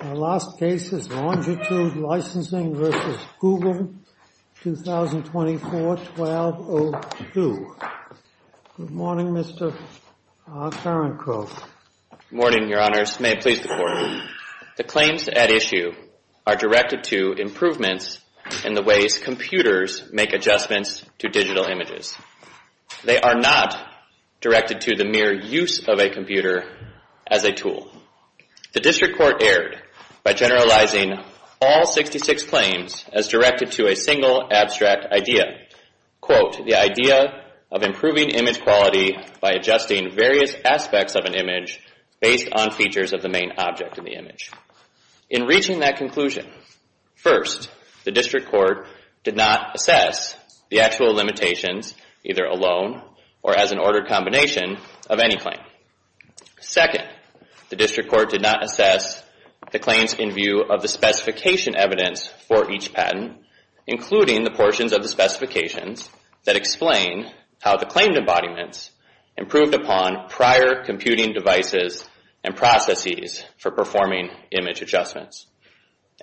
Our last case is Longitude Licensing v. Google, 2024-1202. Good morning, Mr. Tarenko. Good morning, Your Honors. May it please the Court. The claims at issue are directed to improvements in the ways computers make adjustments to digital images. They are not directed to the mere use of a computer as a tool. The District Court erred by generalizing all 66 claims as directed to a single abstract idea, quote, the idea of improving image quality by adjusting various aspects of an image based on features of the main object in the image. In reaching that conclusion, first, the District Court did not assess the actual limitations either alone or as an ordered combination of any claim. Second, the District Court did not assess the claims in view of the specification evidence for each patent, including the portions of the specifications that explain how the claimed embodiments improved upon prior computing devices and processes for performing image adjustments.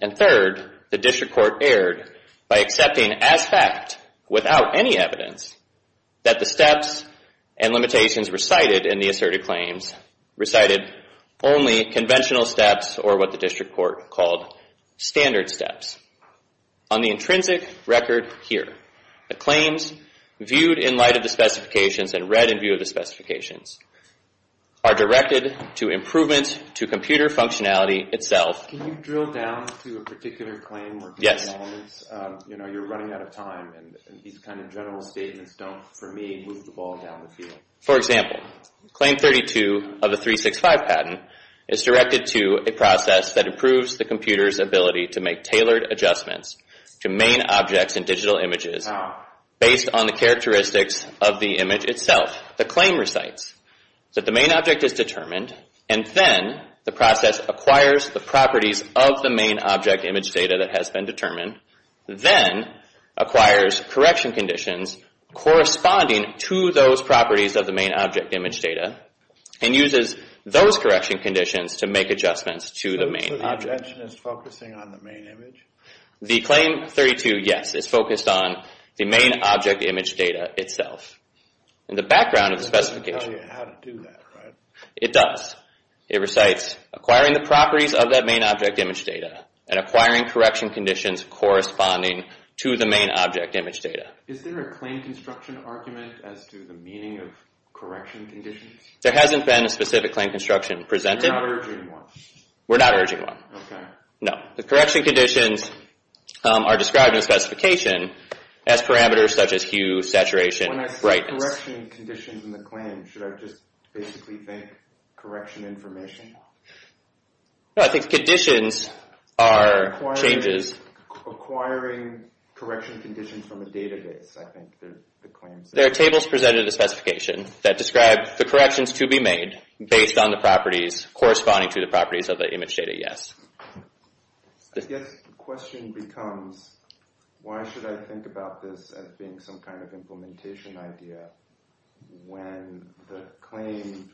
And third, the District Court erred by accepting as fact, without any evidence, that the steps and limitations recited in the asserted claims recited only conventional steps or what the District Court called standard steps. On the intrinsic record here, the claims viewed in light of the specifications and read in view of the specifications are directed to improvements to computer functionality itself. Can you drill down to a particular claim? Yes. You're running out of time, and these kind of general statements don't, for me, move the ball down the field. For example, Claim 32 of the 365 patent is directed to a process that improves the computer's ability to make tailored adjustments to main objects in digital images based on the characteristics of the image itself. The claim recites that the main object is determined, and then the process acquires the properties of the main object image data that has been determined, then acquires correction conditions corresponding to those properties of the main object image data, and uses those correction conditions to make adjustments to the main object. So this objection is focusing on the main image? The Claim 32, yes, is focused on the main object image data itself. In the background of the specification. It doesn't tell you how to do that, right? It does. It recites acquiring the properties of that main object image data and acquiring correction conditions corresponding to the main object image data. Is there a claim construction argument as to the meaning of correction conditions? There hasn't been a specific claim construction presented. You're not urging one? We're not urging one. Okay. No. The correction conditions are described in the specification as parameters such as hue, saturation, brightness. When I say correction conditions in the claim, should I just basically think correction information? No, I think conditions are changes. Acquiring correction conditions from a database, I think the claim says. There are tables presented in the specification that describe the corrections to be made based on the properties corresponding to the properties of the image data, yes. The question becomes, why should I think about this as being some kind of implementation idea when the claim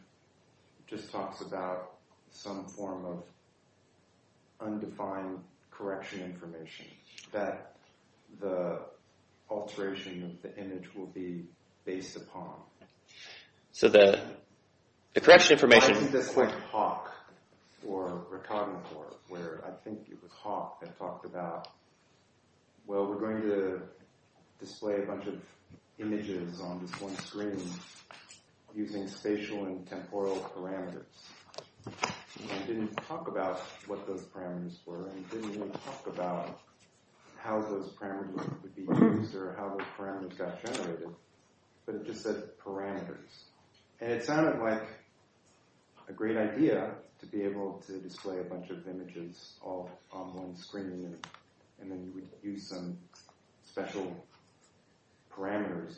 just talks about some form of undefined correction information that the alteration of the image will be based upon? So the correction information. I think that's like Hawk or Recognitor, where I think it was Hawk that talked about, well, we're going to display a bunch of images on this one screen using spatial and temporal parameters. And it didn't talk about what those parameters were, and it didn't even talk about how those parameters would be used or how those parameters got generated, but it just said parameters. And it sounded like a great idea to be able to display a bunch of images all on one screen and then you would use some special parameters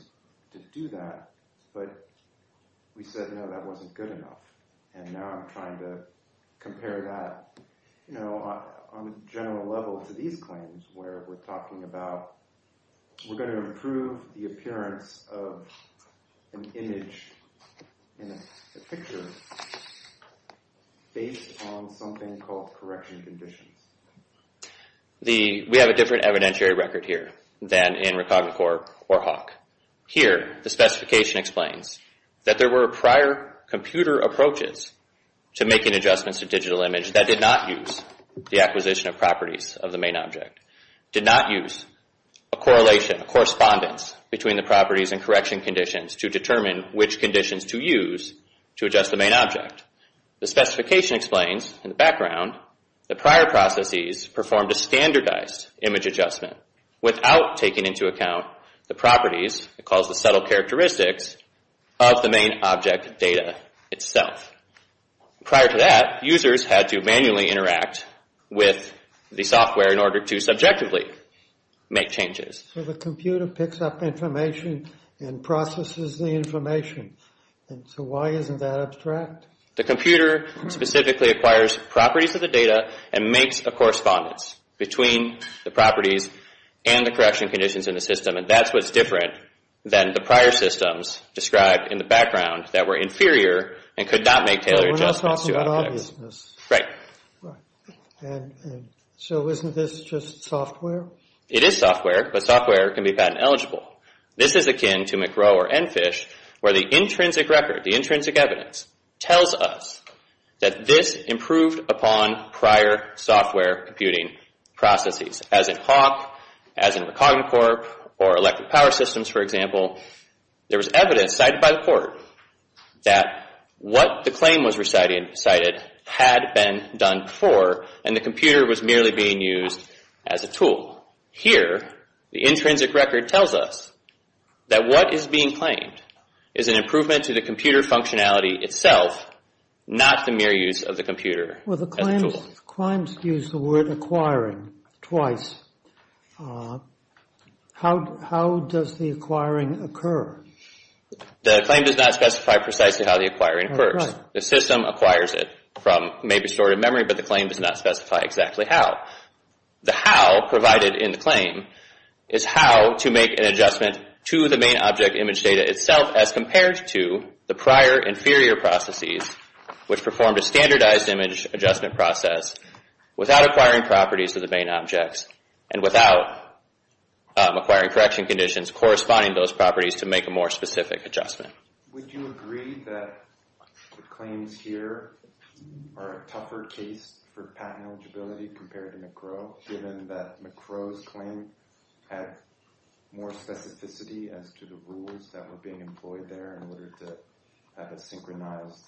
to do that, but we said, no, that wasn't good enough. And now I'm trying to compare that on a general level to these claims where we're talking about, we're going to improve the appearance of an image in a picture based on something called correction conditions. We have a different evidentiary record here than in Recognitor or Hawk. Here, the specification explains that there were prior computer approaches to making adjustments to digital image that did not use the acquisition of properties of the main object, did not use a correlation, a correspondence between the properties and correction conditions to determine which conditions to use to adjust the main object. The specification explains, in the background, that prior processes performed a standardized image adjustment without taking into account the properties, it calls the subtle characteristics, of the main object data itself. Prior to that, users had to manually interact with the software in order to subjectively make changes. So the computer picks up information and processes the information. So why isn't that abstract? The computer specifically acquires properties of the data and makes a correspondence between the properties and the correction conditions in the system, and that's what's different than the prior systems described in the background that were inferior and could not make tailored adjustments to objects. We're not talking about obviousness. Right. So isn't this just software? It is software, but software can be patent eligible. This is akin to McRow or EnFish, where the intrinsic record, the intrinsic evidence, tells us that this improved upon prior software computing processes, as in HAWQ, as in Recognacorp, or electric power systems, for example. There was evidence cited by the court that what the claim was recited had been done before, and the computer was merely being used as a tool. Here, the intrinsic record tells us that what is being claimed is an improvement to the computer functionality itself, not the mere use of the computer as a tool. Well, the claims use the word acquiring twice. How does the acquiring occur? The claim does not specify precisely how the acquiring occurs. The system acquires it from maybe stored in memory, but the claim does not specify exactly how. The how provided in the claim is how to make an adjustment to the main object image data itself as compared to the prior inferior processes, which performed a standardized image adjustment process without acquiring properties of the main objects and without acquiring correction conditions corresponding to those properties to make a more specific adjustment. Would you agree that the claims here are a tougher case for patent eligibility compared to McRow, given that McRow's claim had more specificity as to the rules that were being employed there in order to have a synchronized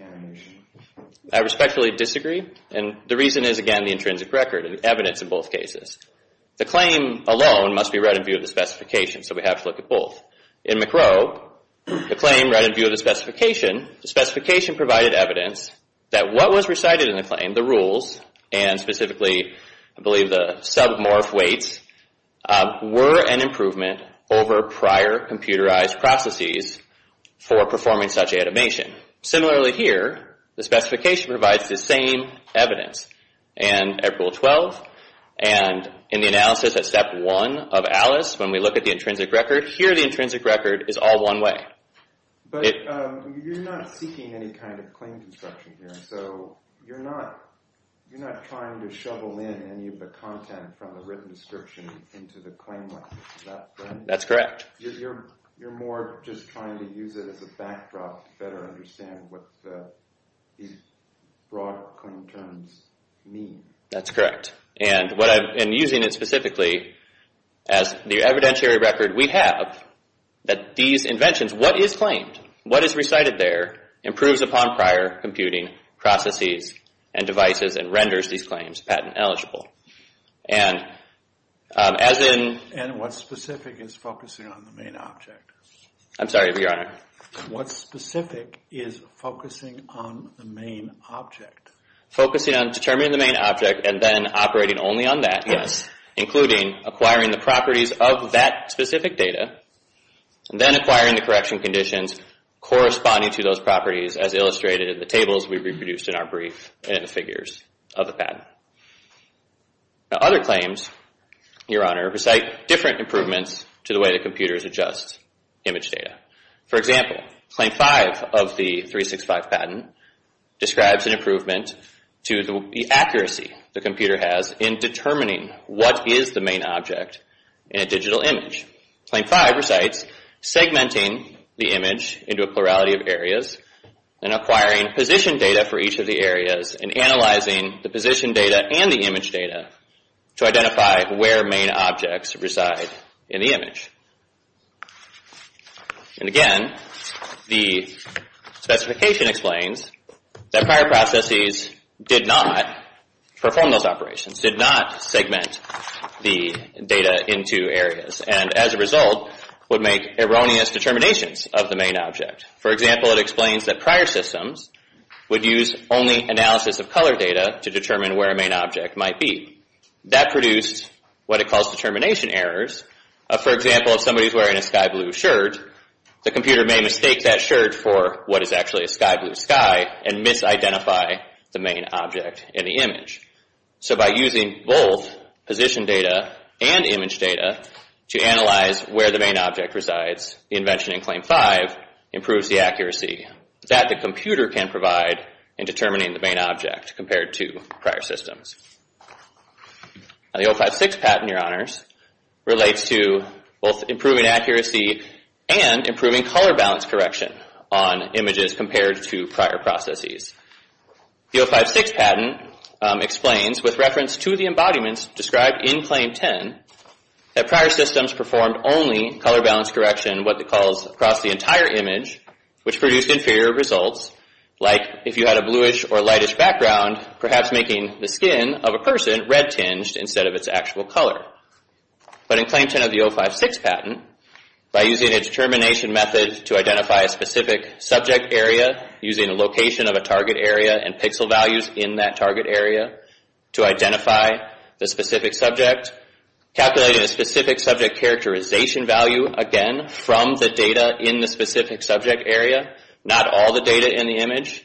animation? I respectfully disagree, and the reason is, again, the intrinsic record and the evidence in both cases. The claim alone must be read in view of the specification, so we have to look at both. In McRow, the claim read in view of the specification. The specification provided evidence that what was recited in the claim, the rules, and specifically, I believe, the submorph weights, were an improvement over prior computerized processes for performing such animation. Similarly here, the specification provides the same evidence. And at Rule 12, and in the analysis at Step 1 of ALICE, when we look at the intrinsic record, here the intrinsic record is all one way. But you're not seeking any kind of claim construction here, so you're not trying to shovel in any of the content from the written description into the claim. That's correct. You're more just trying to use it as a backdrop to better understand what these broad claim terms mean. That's correct. And using it specifically as the evidentiary record, we have that these inventions, what is claimed, what is recited there, improves upon prior computing processes and devices and renders these claims patent eligible. And what specific is focusing on the main object? I'm sorry, Your Honor. What specific is focusing on the main object? Focusing on determining the main object and then operating only on that, yes, including acquiring the properties of that specific data, and then acquiring the correction conditions corresponding to those properties as illustrated in the tables we reproduced in our brief and in the figures of the patent. Other claims, Your Honor, recite different improvements to the way the computers adjust image data. For example, Claim 5 of the 365 patent describes an improvement to the accuracy the computer has in determining what is the main object in a digital image. Claim 5 recites segmenting the image into a plurality of areas and acquiring position data for each of the areas and analyzing the position data and the image data to identify where main objects reside in the image. And again, the specification explains that prior processes did not perform those operations, did not segment the data into areas, and as a result would make erroneous determinations of the main object. For example, it explains that prior systems would use only analysis of color data to determine where a main object might be. That produced what it calls determination errors. For example, if somebody is wearing a sky blue shirt, the computer may mistake that shirt for what is actually a sky blue sky and misidentify the main object in the image. So by using both position data and image data to analyze where the main object resides, the invention in Claim 5 improves the accuracy that the computer can provide in determining the main object compared to prior systems. The 056 patent, Your Honors, relates to both improving accuracy and improving color balance correction on images compared to prior processes. The 056 patent explains with reference to the embodiments described in Claim 10 that prior systems performed only color balance correction, what it calls across the entire image, which produced inferior results, like if you had a bluish or lightish background, perhaps making the skin of a person red-tinged instead of its actual color. But in Claim 10 of the 056 patent, by using a determination method to identify a specific subject area, using a location of a target area and pixel values in that target area to identify the specific subject, calculating a specific subject characterization value, again, from the data in the specific subject area, not all the data in the image,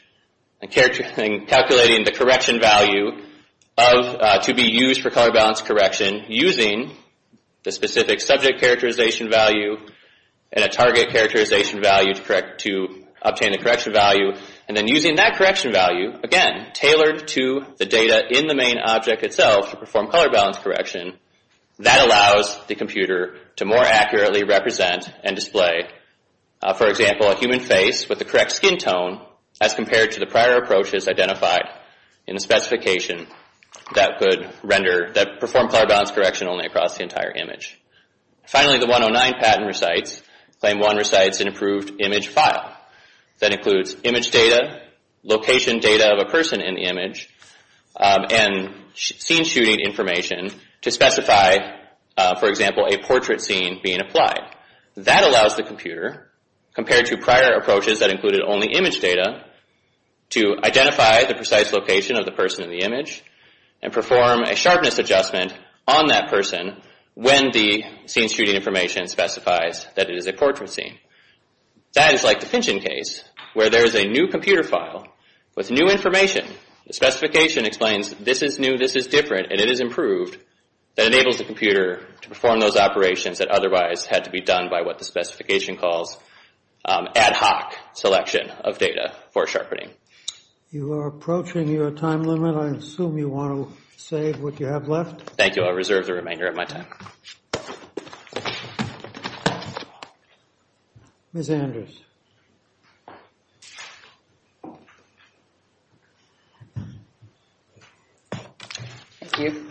and calculating the correction value to be used for color balance correction using the specific subject characterization value and a target characterization value to obtain the correction value, and then using that correction value, again, tailored to the data in the main object itself to perform color balance correction, that allows the computer to more accurately represent and display, for example, a human face with the correct skin tone as compared to the prior approaches identified in the specification that performed color balance correction only across the entire image. Finally, the 109 patent recites Claim 1 recites an improved image file that includes image data, location data of a person in the image, and scene shooting information to specify, for example, a portrait scene being applied. That allows the computer, compared to prior approaches that included only image data, to identify the precise location of the person in the image and perform a sharpness adjustment on that person when the scene shooting information specifies that it is a portrait scene. That is like the Finchon case, where there is a new computer file with new information. The specification explains this is new, this is different, and it is improved. That enables the computer to perform those operations that otherwise had to be done by what the specification calls ad hoc selection of data for sharpening. You are approaching your time limit. I assume you want to save what you have left. Thank you. I reserve the remainder of my time. Ms. Anders. Thank you.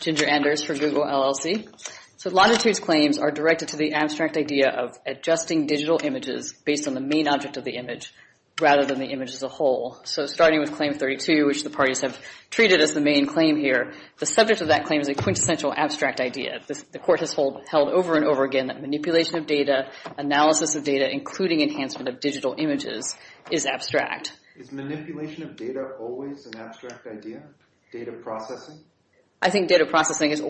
Ginger Anders for Google LLC. Longitude's claims are directed to the abstract idea of adjusting digital images based on the main object of the image rather than the image as a whole. Starting with Claim 32, which the parties have treated as the main claim here, the subject of that claim is a quintessential abstract idea. The court has held over and over again that manipulation of data, analysis of data, including enhancement of digital images, is abstract. Is manipulation of data always an abstract idea? Data processing? I think data processing is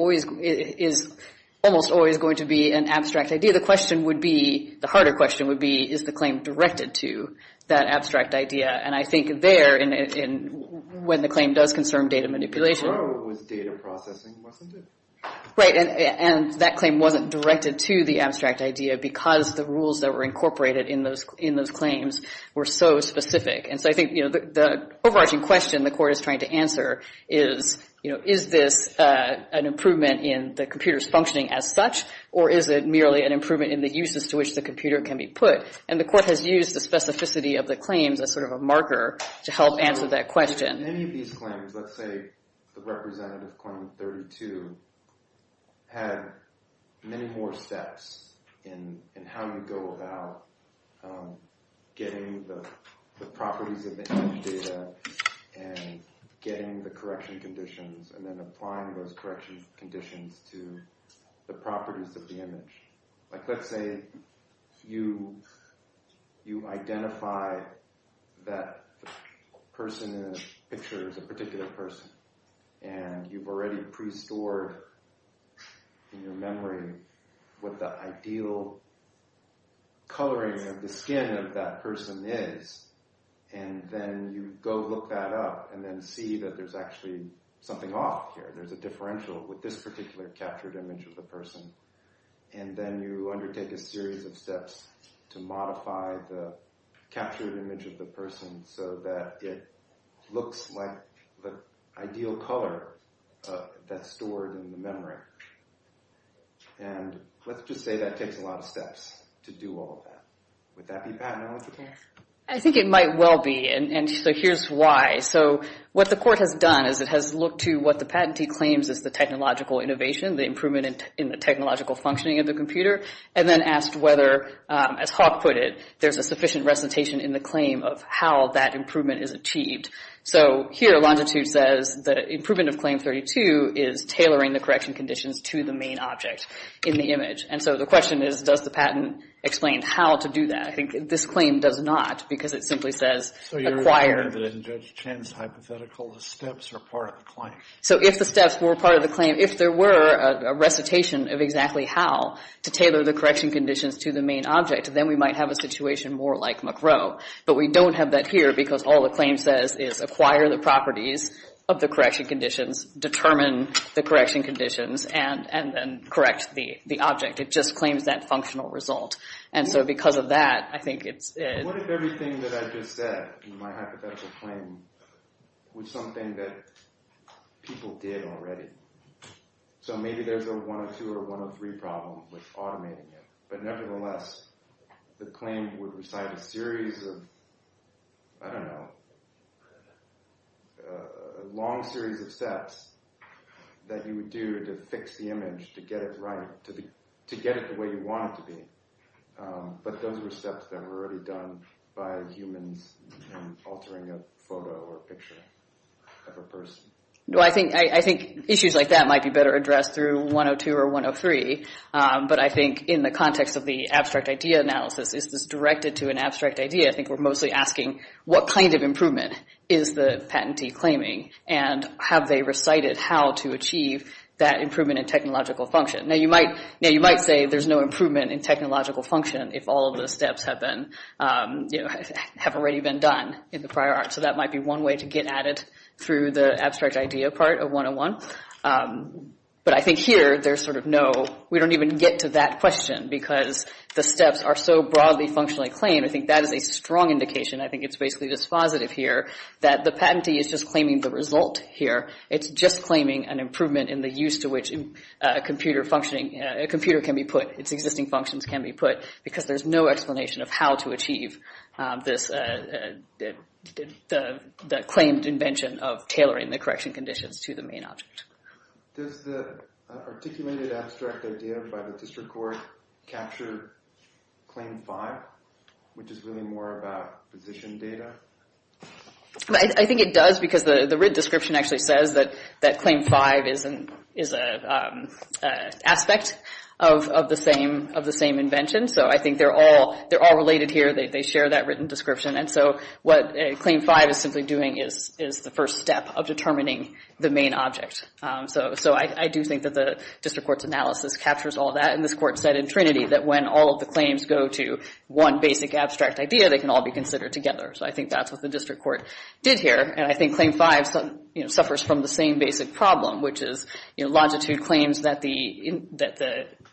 almost always going to be an abstract idea. The question would be, the harder question would be, is the claim directed to that abstract idea? I think there, when the claim does concern data manipulation... Right, and that claim wasn't directed to the abstract idea because the rules that were incorporated in those claims were so specific. And so I think the overarching question the court is trying to answer is, is this an improvement in the computer's functioning as such, or is it merely an improvement in the uses to which the computer can be put? And the court has used the specificity of the claims as sort of a marker to help answer that question. Many of these claims, let's say the representative claim 32, had many more steps in how you go about getting the properties of the image data and getting the correction conditions and then applying those correction conditions to the properties of the image. Let's say you identify that the person in the picture is a particular person and you've already pre-stored in your memory what the ideal coloring of the skin of that person is, and then you go look that up and then see that there's actually something off here. There's a differential with this particular captured image of the person. And then you undertake a series of steps to modify the captured image of the person so that it looks like the ideal color that's stored in the memory. And let's just say that takes a lot of steps to do all of that. Would that be patent eligible? I think it might well be, and so here's why. So what the court has done is it has looked to what the patentee claims as the technological innovation, the improvement in the technological functioning of the computer, and then asked whether, as Hawk put it, there's a sufficient recitation in the claim of how that improvement is achieved. So here Longitude says the improvement of claim 32 is tailoring the correction conditions to the main object in the image. And so the question is, does the patent explain how to do that? I think this claim does not because it simply says acquire. So you're requiring that in Judge Chen's hypothetical the steps are part of the claim. So if the steps were part of the claim, if there were a recitation of exactly how to tailor the correction conditions to the main object, then we might have a situation more like McRow. But we don't have that here because all the claim says is acquire the properties of the correction conditions, determine the correction conditions, and then correct the object. It just claims that functional result. And so because of that, I think it's... What if everything that I just said in my hypothetical claim was something that people did already? So maybe there's a 102 or 103 problem with automating it. But nevertheless, the claim would recite a series of, I don't know, a long series of steps that you would do to fix the image, to get it right, to get it the way you want it to be. But those were steps that were already done by humans in altering a photo or a picture of a person. Well, I think issues like that might be better addressed through 102 or 103. But I think in the context of the abstract idea analysis, is this directed to an abstract idea? I think we're mostly asking what kind of improvement is the patentee claiming? And have they recited how to achieve that improvement in technological function? Now, you might say there's no improvement in technological function if all of the steps have already been done in the prior art. So that might be one way to get at it through the abstract idea part of 101. But I think here, there's sort of no... We don't even get to that question because the steps are so broadly functionally claimed. I think that is a strong indication. I think it's basically dispositive here, that the patentee is just claiming the result here. It's just claiming an improvement in the use to which a computer can be put, its existing functions can be put, because there's no explanation of how to achieve this claimed invention of tailoring the correction conditions to the main object. Does the articulated abstract idea by the district court capture Claim 5, which is really more about position data? I think it does because the RID description actually says that Claim 5 is an aspect of the same invention. So I think they're all related here. They share that written description. And so what Claim 5 is simply doing is the first step of determining the main object. So I do think that the district court's analysis captures all that. And this court said in Trinity that when all of the claims go to one basic abstract idea, they can all be considered together. So I think that's what the district court did here. And I think Claim 5 suffers from the same basic problem, which is Longitude claims that the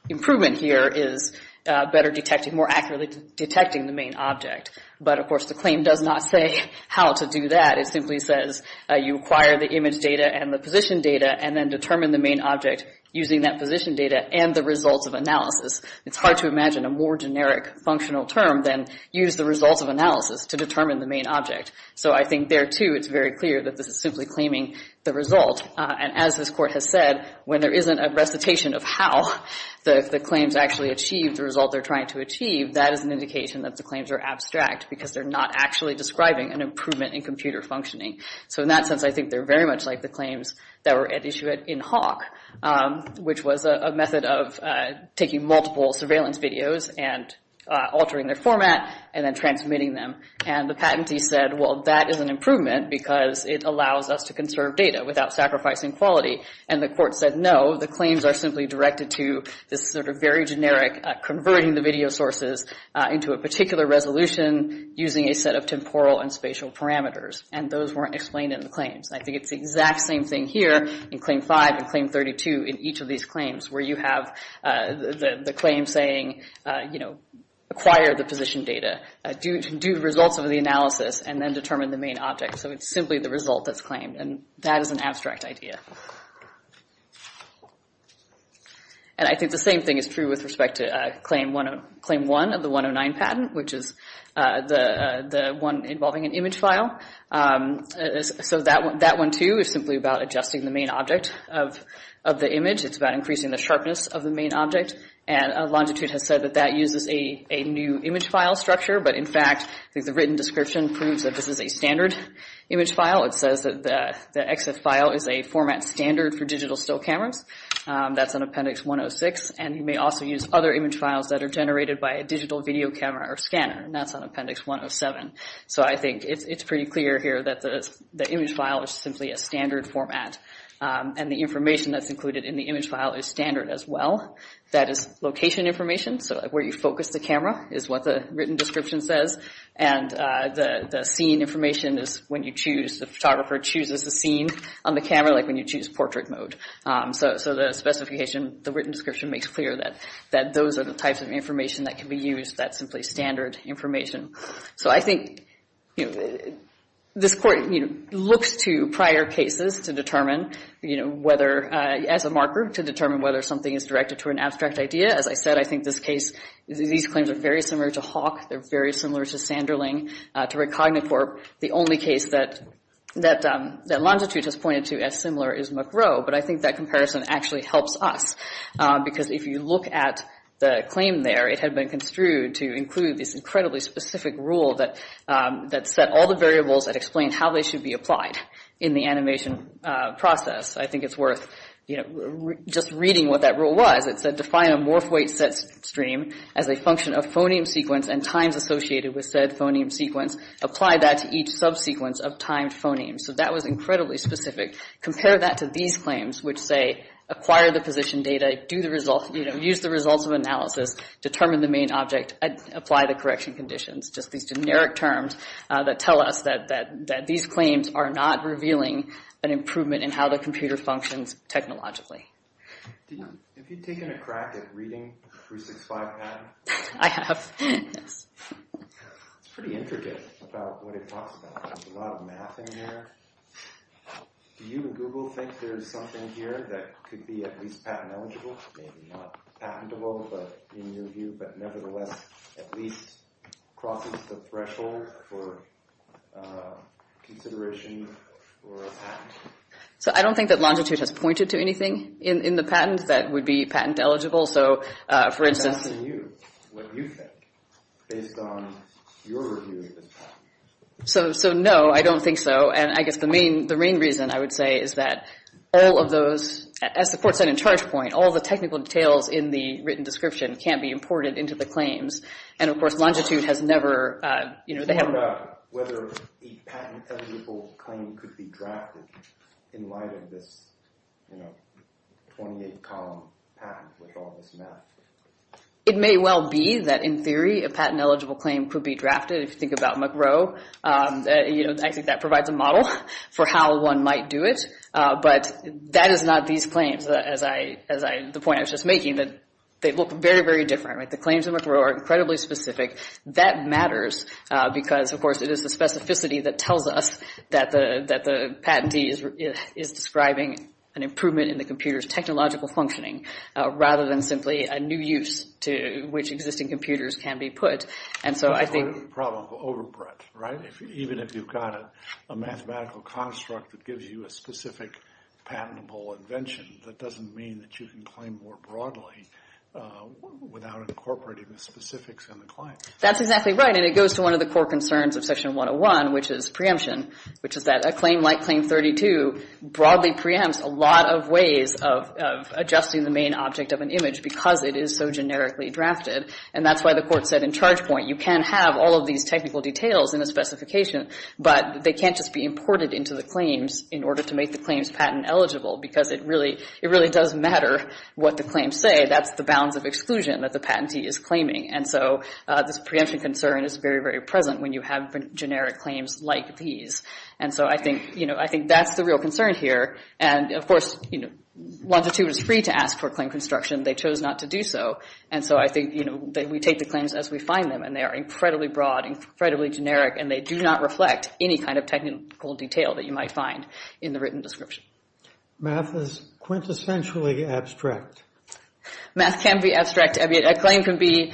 improvement here is better detecting, more accurately detecting the main object. But, of course, the claim does not say how to do that. It simply says you acquire the image data and the position data and then determine the main object using that position data and the results of analysis. It's hard to imagine a more generic functional term than use the results of analysis to determine the main object. So I think there, too, it's very clear that this is simply claiming the result. And as this court has said, when there isn't a recitation of how the claims actually achieve the result they're trying to achieve, that is an indication that the claims are abstract because they're not actually describing an improvement in computer functioning. So in that sense, I think they're very much like the claims that were at issue in Hawk, which was a method of taking multiple surveillance videos and altering their format and then transmitting them. And the patentee said, well, that is an improvement because it allows us to conserve data without sacrificing quality. And the court said, no, the claims are simply directed to this sort of very generic converting the video sources into a particular resolution using a set of temporal and spatial parameters. And those weren't explained in the claims. And I think it's the exact same thing here in Claim 5 and Claim 32 in each of these claims, where you have the claim saying, you know, acquire the position data, do the results of the analysis, and then determine the main object. So it's simply the result that's claimed, and that is an abstract idea. And I think the same thing is true with respect to Claim 1 of the 109 patent, which is the one involving an image file. So that one, too, is simply about adjusting the main object of the image. It's about increasing the sharpness of the main object. And Longitude has said that that uses a new image file structure. But in fact, the written description proves that this is a standard image file. It says that the exif file is a format standard for digital still cameras. That's on Appendix 106. And you may also use other image files that are generated by a digital video camera or scanner. And that's on Appendix 107. So I think it's pretty clear here that the image file is simply a standard format. And the information that's included in the image file is standard as well. That is location information, so where you focus the camera is what the written description says. And the scene information is when you choose, the photographer chooses the scene on the camera, like when you choose portrait mode. So the specification, the written description makes clear that those are the types of information that can be used that's simply standard information. So I think this court looks to prior cases to determine whether, as a marker, to determine whether something is directed to an abstract idea. As I said, I think this case, these claims are very similar to Hawk. They're very similar to Sanderling, to Recognitor. The only case that Longitude has pointed to as similar is McRow, but I think that comparison actually helps us. Because if you look at the claim there, it had been construed to include this incredibly specific rule that set all the variables that explain how they should be applied in the animation process. I think it's worth just reading what that rule was. It said define a MorphWeight set stream as a function of phoneme sequence and times associated with said phoneme sequence. Apply that to each subsequence of timed phonemes. So that was incredibly specific. Compare that to these claims, which say acquire the position data, use the results of analysis, determine the main object, apply the correction conditions. Just these generic terms that tell us that these claims are not revealing an improvement in how the computer functions technologically. Have you taken a crack at reading 365 patent? I have, yes. It's pretty intricate about what it talks about. There's a lot of math in there. Do you and Google think there's something here that could be at least patent eligible? Maybe not patentable in your view, but nevertheless at least crosses the threshold for consideration for a patent. I don't think that Longitude has pointed to anything in the patent that would be patent eligible. I'm asking you what you think based on your review of this patent. No, I don't think so. I guess the main reason, I would say, is that all of those, as the court said in charge point, all the technical details in the written description can't be imported into the claims. And, of course, Longitude has never... What about whether a patent-eligible claim could be drafted in light of this 28-column patent with all this math? It may well be that in theory a patent-eligible claim could be drafted. If you think about McRow, I think that provides a model for how one might do it. But that is not these claims, the point I was just making, that they look very, very different. The claims in McRow are incredibly specific. That matters because, of course, it is the specificity that tells us that the patentee is describing an improvement in the computer's technological functioning rather than simply a new use to which existing computers can be put. And so I think... That's where the problem will overbread, right? Even if you've got a mathematical construct that gives you a specific patentable invention, that doesn't mean that you can claim more broadly without incorporating the specifics in the claim. That's exactly right, and it goes to one of the core concerns of Section 101, which is preemption, which is that a claim like Claim 32 broadly preempts a lot of ways of adjusting the main object of an image because it is so generically drafted. And that's why the Court said in Chargepoint you can have all of these technical details in a specification, but they can't just be imported into the claims in order to make the claims patent-eligible because it really does matter what the claims say. That's the bounds of exclusion that the patentee is claiming. And so this preemption concern is very, very present when you have generic claims like these. And so I think that's the real concern here. And, of course, Longitude is free to ask for claim construction. They chose not to do so. And so I think we take the claims as we find them, and they are incredibly broad, incredibly generic, and they do not reflect any kind of technical detail that you might find in the written description. Math is quintessentially abstract. Math can be abstract. A claim can be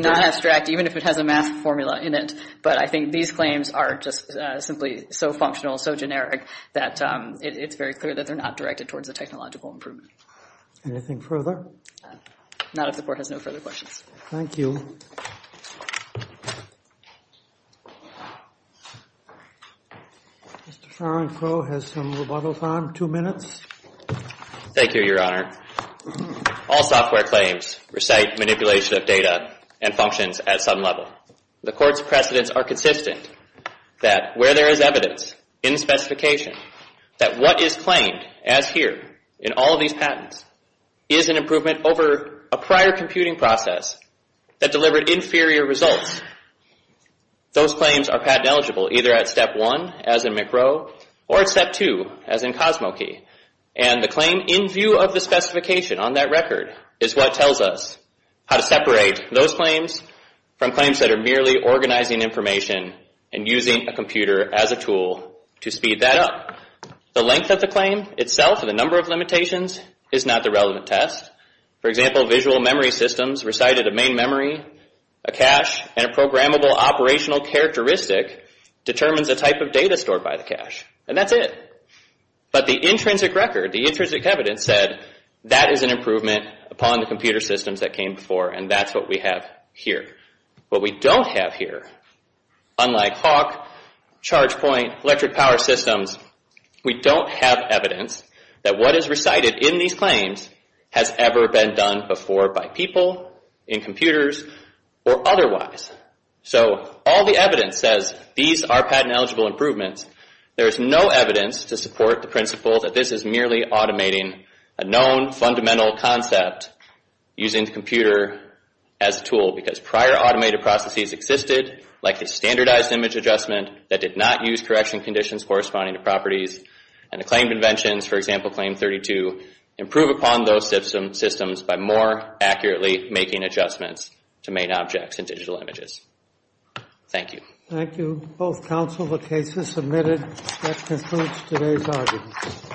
non-abstract, even if it has a math formula in it. But I think these claims are just simply so functional, so generic, that it's very clear that they're not directed towards a technological improvement. Anything further? Not if the Court has no further questions. Thank you. Mr. Sharon Crowe has some rebuttals on. Two minutes. Thank you, Your Honor. All software claims recite manipulation of data and functions at some level. The Court's precedents are consistent that where there is evidence in the specification that what is claimed as here in all of these patents is an improvement over a prior computing process that delivered inferior results. Those claims are patent eligible either at Step 1, as in McRow, or at Step 2, as in Kosmokey. And the claim in view of the specification on that record is what tells us how to separate those claims from claims that are merely organizing information and using a computer as a tool to speed that up. The length of the claim itself and the number of limitations is not the relevant test. For example, visual memory systems recited a main memory, a cache, and a programmable operational characteristic determines the type of data stored by the cache. And that's it. But the intrinsic record, the intrinsic evidence, said that is an improvement upon the computer systems that came before and that's what we have here. What we don't have here, unlike Hawk, ChargePoint, electric power systems, we don't have evidence that what is recited in these claims has ever been done before by people, in computers, or otherwise. So all the evidence says these are patent eligible improvements. There is no evidence to support the principle that this is merely automating a known fundamental concept using the computer as a tool because prior automated processes existed like a standardized image adjustment that did not use correction conditions corresponding to properties. And the claim conventions, for example, Claim 32, improve upon those systems by more accurately making adjustments to main objects and digital images. Thank you. Thank you. Both counsel, the case is submitted. That concludes today's argument.